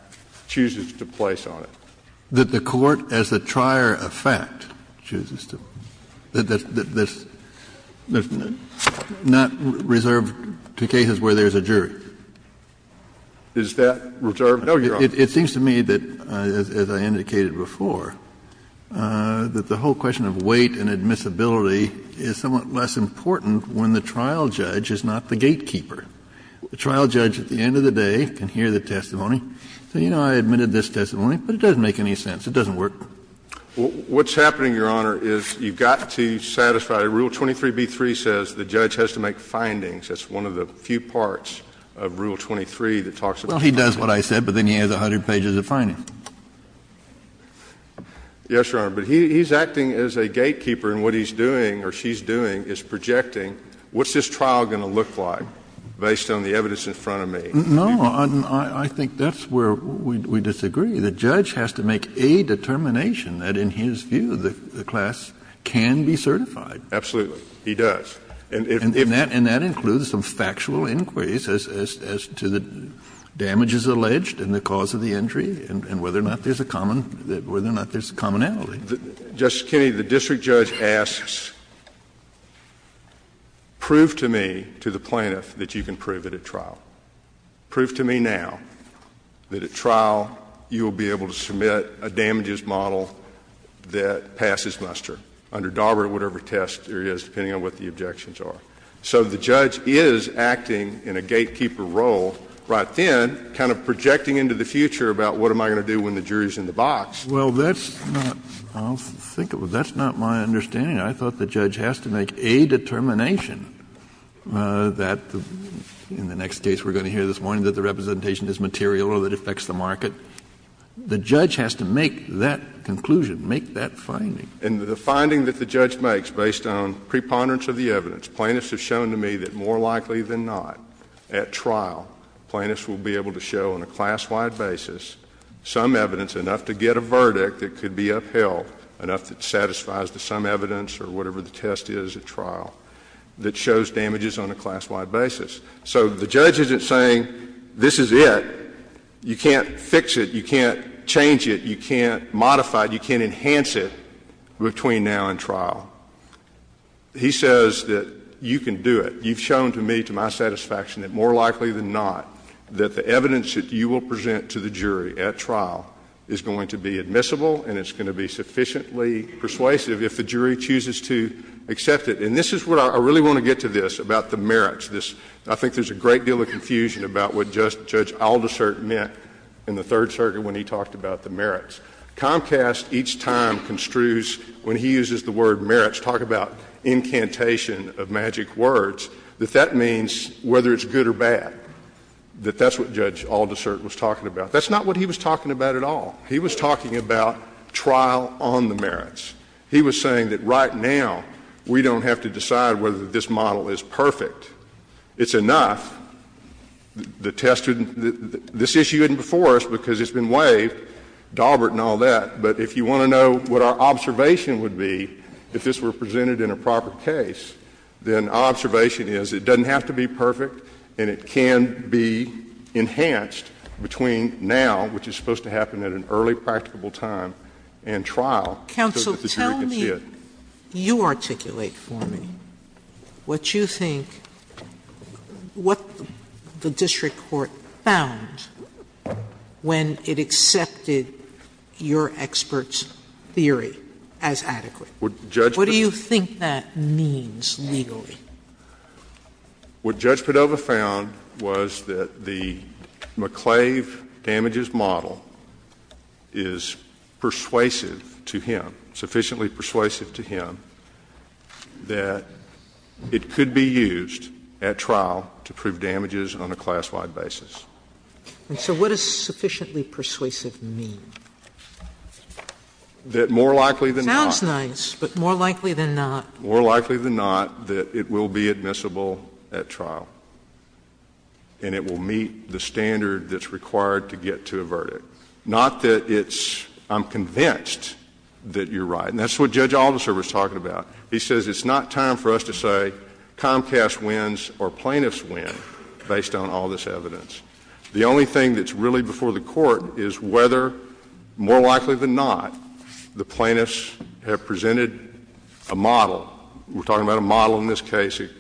chooses to place on it. That the court as the trier of fact chooses to. That's not reserved to cases where there's a jury. Is that reserved? No, Your Honor. It seems to me that, as I indicated before, that the whole question of weight and weight is a gatekeeper. The trial judge at the end of the day can hear the testimony, say, you know, I admitted this testimony, but it doesn't make any sense. It doesn't work. What's happening, Your Honor, is you've got to satisfy — Rule 23b3 says the judge has to make findings. That's one of the few parts of Rule 23 that talks about findings. Well, he does what I said, but then he has 100 pages of findings. Yes, Your Honor, but he's acting as a gatekeeper. And what he's doing or she's doing is projecting what's this trial going to look like based on the evidence in front of me. No. I think that's where we disagree. The judge has to make a determination that, in his view, the class can be certified. Absolutely. He does. And that includes some factual inquiries as to the damages alleged and the cause of the injury and whether or not there's a commonality. Justice Kennedy, the district judge asks, prove to me, to the plaintiff, that you can prove it at trial. Prove to me now that, at trial, you will be able to submit a damages model that passes muster under DARPA or whatever test there is, depending on what the objections are. So the judge is acting in a gatekeeper role right then, kind of projecting into the future about what am I going to do when the jury's in the box. Well, that's not my understanding. I thought the judge has to make a determination that, in the next case we're going to hear this morning, that the representation is material or that affects the market. The judge has to make that conclusion, make that finding. And the finding that the judge makes, based on preponderance of the evidence, plaintiffs have shown to me that, more likely than not, at trial, plaintiffs will be able to show, on a class-wide basis, some evidence, enough to get a verdict that could be upheld, enough that satisfies the sum evidence or whatever the test is at trial, that shows damages on a class-wide basis. So the judge isn't saying, this is it. You can't fix it. You can't change it. You can't modify it. You can't enhance it between now and trial. He says that you can do it. But you've shown to me, to my satisfaction, that, more likely than not, that the evidence that you will present to the jury at trial is going to be admissible and it's going to be sufficiently persuasive if the jury chooses to accept it. And this is what I really want to get to this, about the merits. I think there's a great deal of confusion about what Judge Aldersert meant in the Third Circuit when he talked about the merits. Comcast, each time, construes, when he uses the word merits, talk about incantation of magic words, that that means whether it's good or bad, that that's what Judge Aldersert was talking about. That's not what he was talking about at all. He was talking about trial on the merits. He was saying that right now, we don't have to decide whether this model is perfect. It's enough. The test wouldn't – this issue isn't before us because it's been waived, Daubert and all that, but if you want to know what our observation would be if this were presented in a proper case, then our observation is it doesn't have to be perfect and it can be enhanced between now, which is supposed to happen at an early practicable time, and trial. Sotomayor, tell me, you articulate for me what you think, what the district court found when it accepted your expert's theory as adequate. What do you think that means legally? What Judge Padova found was that the McClave damages model is persuasive to him, sufficiently persuasive to him, that it could be used at trial to prove damages on a class-wide basis. And so what does sufficiently persuasive mean? That more likely than not That's nice, but more likely than not More likely than not that it will be admissible at trial and it will meet the standard that's required to get to a verdict. Not that it's – I'm convinced that you're right, and that's what Judge Alderser was talking about. He says it's not time for us to say Comcast wins or plaintiffs win based on all this evidence. The only thing that's really before the court is whether, more likely than not, the plaintiffs have presented a model. We're talking about a model in this case. It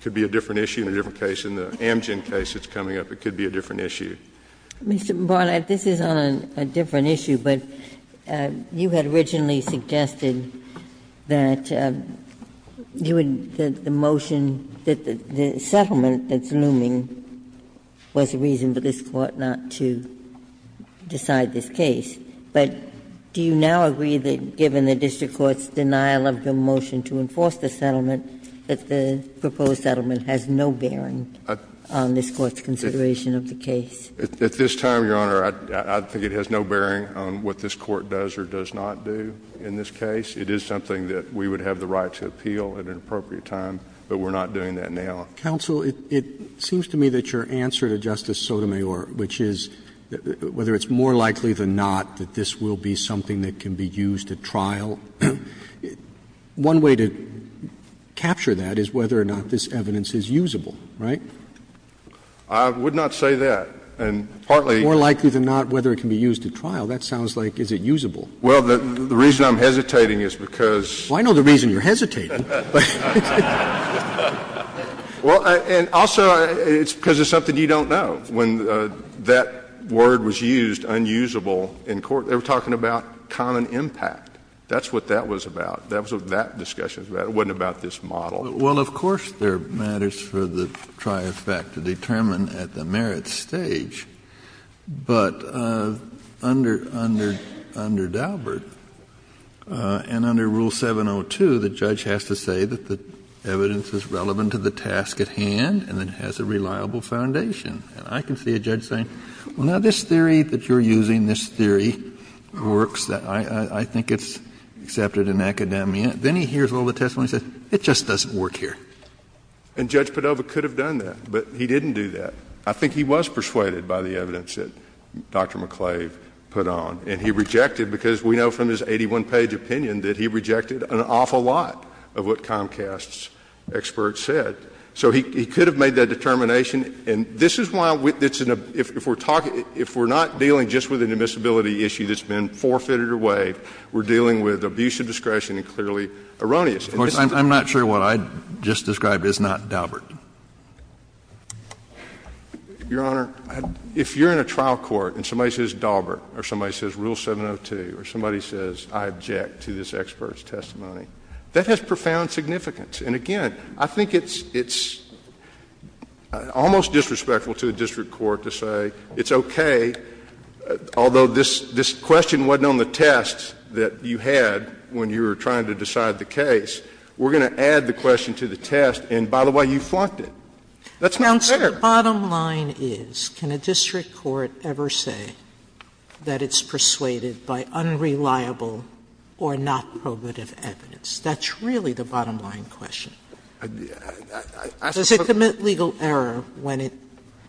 could be a different issue in a different case. In the Amgen case that's coming up, it could be a different issue. Mr. Barnett, this is on a different issue, but you had originally suggested that you would – the motion that the settlement that's looming was a reason for this Court not to decide this case. But do you now agree that, given the district court's denial of the motion to enforce the settlement, that the proposed settlement has no bearing on this Court's consideration of the case? At this time, Your Honor, I think it has no bearing on what this Court does or does not do in this case. It is something that we would have the right to appeal at an appropriate time, but we're not doing that now. Counsel, it seems to me that your answer to Justice Sotomayor, which is whether it's more likely than not that this will be something that can be used at trial, one way to capture that is whether or not this evidence is usable, right? I would not say that. And partly— More likely than not whether it can be used at trial. That sounds like is it usable. Well, the reason I'm hesitating is because— Well, I know the reason you're hesitating. Well, and also it's because it's something you don't know. When that word was used, unusable, in court, they were talking about common impact. That's what that was about. That was what that discussion was about. It wasn't about this model. Well, of course, there are matters for the tri-effect to determine at the merits stage, but under Dalbert and under Rule 702, the judge has to say that the evidence is relevant to the task at hand and it has a reliable foundation. And I can see a judge saying, well, now this theory that you're using, this theory works, I think it's accepted in academia. Then he hears all the testimony and says, it just doesn't work here. And Judge Padova could have done that, but he didn't do that. I think he was persuaded by the evidence that Dr. McClave put on, and he rejected because we know from his 81-page opinion that he rejected an awful lot of what Comcast's experts said. So he could have made that determination. And this is why if we're not dealing just with an admissibility issue that's been forfeited or waived, we're dealing with abuse of discretion and clearly erroneous. I'm not sure what I just described is not Dalbert. Your Honor, if you're in a trial court and somebody says Dalbert or somebody says Rule 702 or somebody says I object to this expert's testimony, that has profound significance. And again, I think it's almost disrespectful to a district court to say it's okay, although this question wasn't on the test that you had when you were trying to decide the case. We're going to add the question to the test, and by the way, you flunked it. That's not fair. Sotomayor, the bottom line is, can a district court ever say that it's persuaded by unreliable or not probative evidence? That's really the bottom line question. Does it commit legal error when it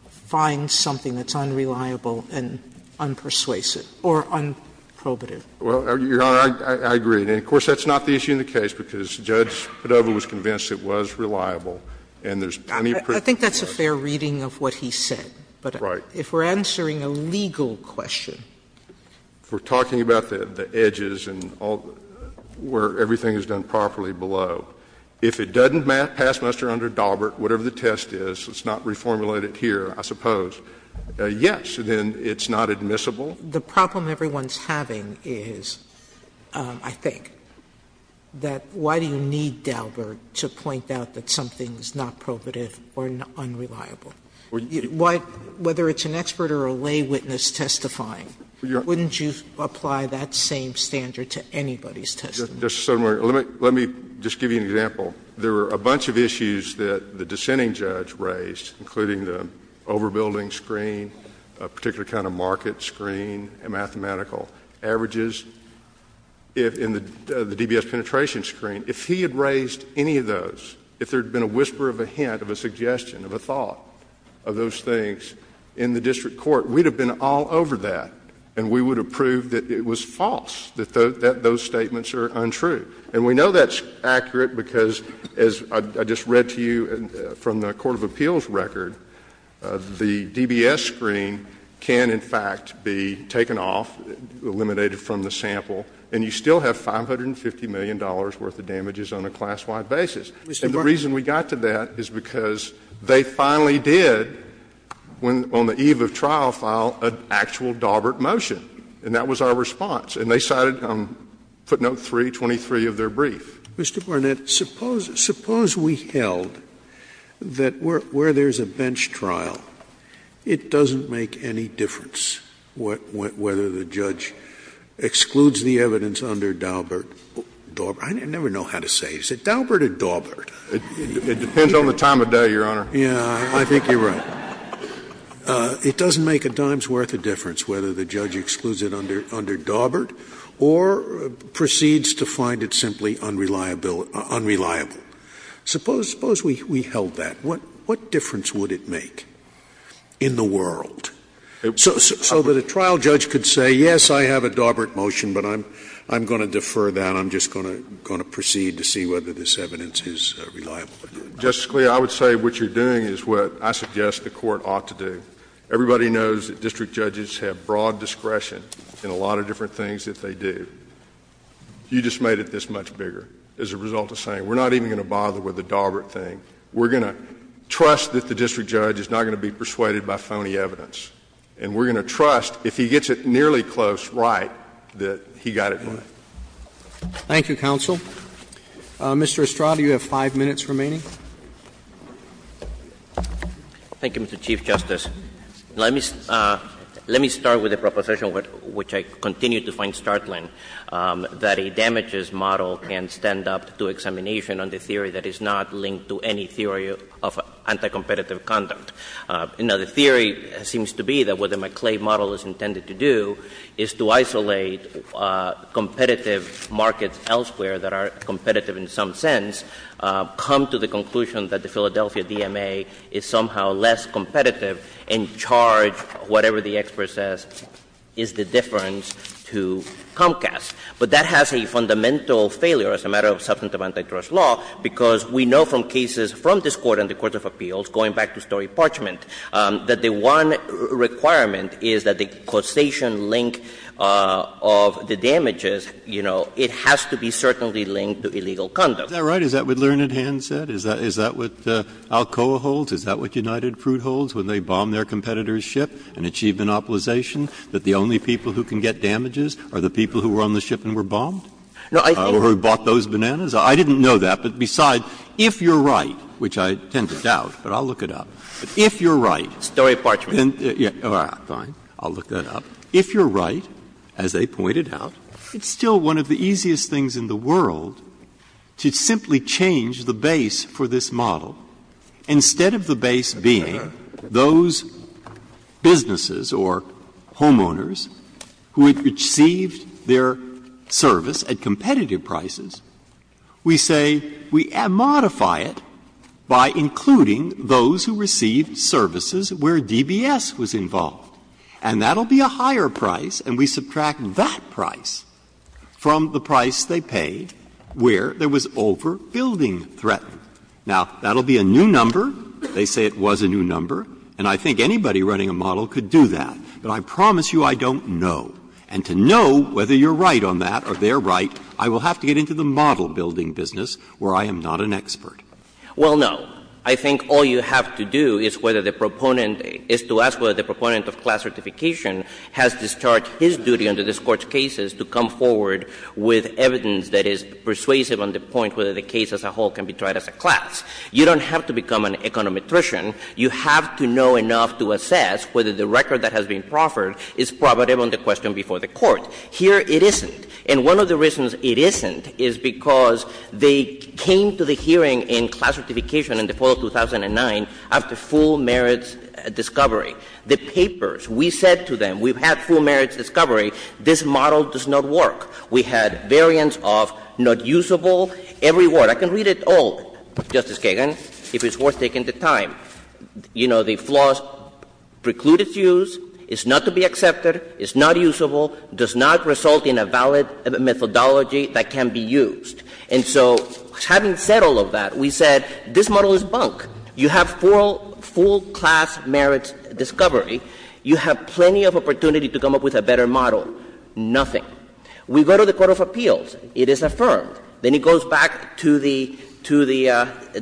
finds something that's unreliable and unpersuasive or unprobative? Well, Your Honor, I agree. And of course, that's not the issue in the case, because Judge Padova was convinced it was reliable, and there's plenty of proof. I think that's a fair reading of what he said. Right. But if we're answering a legal question. If we're talking about the edges and where everything is done properly below, if it doesn't pass muster under Daubert, whatever the test is, let's not reformulate it here, I suppose, yes, then it's not admissible. The problem everyone's having is, I think, that why do you need Daubert to point out that something is not probative or unreliable? Why, whether it's an expert or a lay witness testifying, wouldn't you apply that same standard to anybody's testimony? Justice Sotomayor, let me just give you an example. There were a bunch of issues that the dissenting judge raised, including the overbuilding screen, a particular kind of market screen, and mathematical averages. In the DBS penetration screen, if he had raised any of those, if there had been a whisper of a hint, of a suggestion, of a thought of those things in the district court, we'd have been all over that, and we would have proved that it was false, that those statements are untrue. And we know that's accurate because, as I just read to you from the Court of Appeals record, the DBS screen can, in fact, be taken off, eliminated from the sample, and you still have $550 million worth of damages on a class-wide basis. And the reason we got to that is because they finally did, on the eve of trial, file an actual Daubert motion, and that was our response. And they cited footnote 323 of their brief. Scalia. Mr. Barnett, suppose we held that where there's a bench trial, it doesn't make any difference whether the judge excludes the evidence under Daubert. I never know how to say it. Is it Daubert or Daubert? It depends on the time of day, Your Honor. Yeah. I think you're right. It doesn't make a dime's worth of difference whether the judge excludes it under Daubert or proceeds to find it simply unreliable. Suppose we held that. What difference would it make in the world? So that a trial judge could say, yes, I have a Daubert motion, but I'm going to defer that, I'm just going to proceed to see whether this evidence is reliable. Justice Scalia, I would say what you're doing is what I suggest the court ought to do. Everybody knows that district judges have broad discretion in a lot of different things that they do. You just made it this much bigger as a result of saying we're not even going to bother with the Daubert thing. We're going to trust that the district judge is not going to be persuaded by phony evidence. And we're going to trust, if he gets it nearly close right, that he got it right. Roberts. Thank you, counsel. Mr. Estrada, you have 5 minutes remaining. Estrada. Thank you, Mr. Chief Justice. Let me start with a proposition which I continue to find startling, that a damages model can stand up to examination on the theory that is not linked to any theory of anti-competitive conduct. Now, the theory seems to be that what the McClay model is intended to do is to isolate competitive markets elsewhere that are competitive in some sense, come to the conclusion that the Philadelphia DMA is somehow less competitive and charge whatever the expert says is the difference to Comcast. But that has a fundamental failure as a matter of substantive anti-trust law, because we know from cases from this Court and the Court of Appeals, going back to Story and Parchment, that the one requirement is that the causation link of the damages, you know, it has to be certainly linked to illegal conduct. Is that right? Is that what Learned Hand said? Is that what Alcoa holds? Is that what United Fruit holds when they bomb their competitor's ship and achieve monopolization, that the only people who can get damages are the people who were on the ship and were bombed? No, I think. Or who bought those bananas? I didn't know that. But besides, if you're right, which I tend to doubt, but I'll look it up. If you're right. Breyer, Story and Parchment. Fine. I'll look that up. If you're right, as they pointed out, it's still one of the easiest things in the world to simply change the base for this model, instead of the base being those businesses or homeowners who had received their service at competitive prices, we say we modify it by including those who received services where DBS was involved, and that will be a higher price, and we subtract that price from the price they paid where there was overbuilding threat. Now, that will be a new number. They say it was a new number. And I think anybody running a model could do that. But I promise you I don't know. And to know whether you're right on that or they're right, I will have to get into the model-building business where I am not an expert. Well, no. I think all you have to do is whether the proponent is to ask whether the proponent of class certification has discharged his duty under this Court's cases to come forward with evidence that is persuasive on the point whether the case as a whole can be tried as a class. You don't have to become an econometrician. You have to know enough to assess whether the record that has been proffered is probative on the question before the Court. Here it isn't. And one of the reasons it isn't is because they came to the hearing in class certification in the fall of 2009 after full merits discovery. The papers, we said to them, we've had full merits discovery. This model does not work. We had variants of not usable, every word. I can read it all, Justice Kagan, if it's worth taking the time. You know, the flaws preclude its use. It's not to be accepted. It's not usable. It does not result in a valid methodology that can be used. And so having said all of that, we said this model is bunk. You have full class merits discovery. You have plenty of opportunity to come up with a better model. Nothing. We go to the Court of Appeals. It is affirmed. Then it goes back to the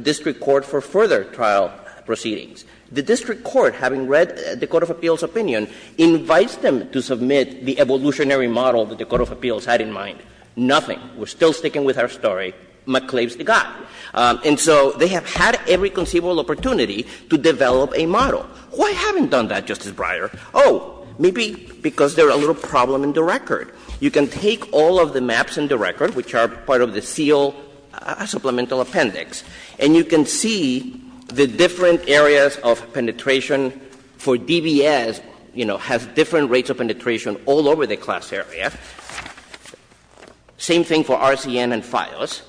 district court for further trial proceedings. The district court, having read the Court of Appeals' opinion, invites them to submit the evolutionary model that the Court of Appeals had in mind. Nothing. We're still sticking with our story. McClave's the guy. And so they have had every conceivable opportunity to develop a model. Why haven't done that, Justice Breyer? Oh, maybe because there's a little problem in the record. You can take all of the maps in the record, which are part of the SEAL supplemental appendix, and you can see the different areas of penetration for DBS, you know, has different rates of penetration all over the class area. Same thing for RCN and FIOS.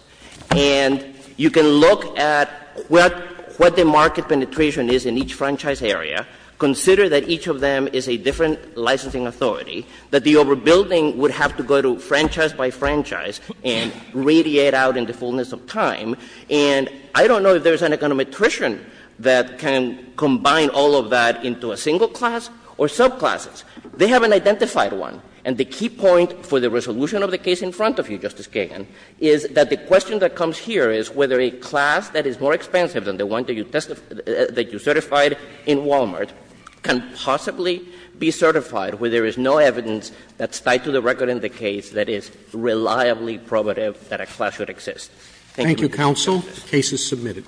And you can look at what the market penetration is in each franchise area, consider that each of them is a different licensing authority, that the overbuilding would have to go to franchise by franchise and radiate out in the fullness of time. And I don't know if there's an econometrician that can combine all of that into a single class or subclasses. They haven't identified one. And the key point for the resolution of the case in front of you, Justice Kagan, is that the question that comes here is whether a class that is more expensive than the one that you certified in Walmart can possibly be certified where there is no evidence that's tied to the record in the case that is reliably probative that a class should exist. Thank you. Roberts. Roberts. Thank you, counsel.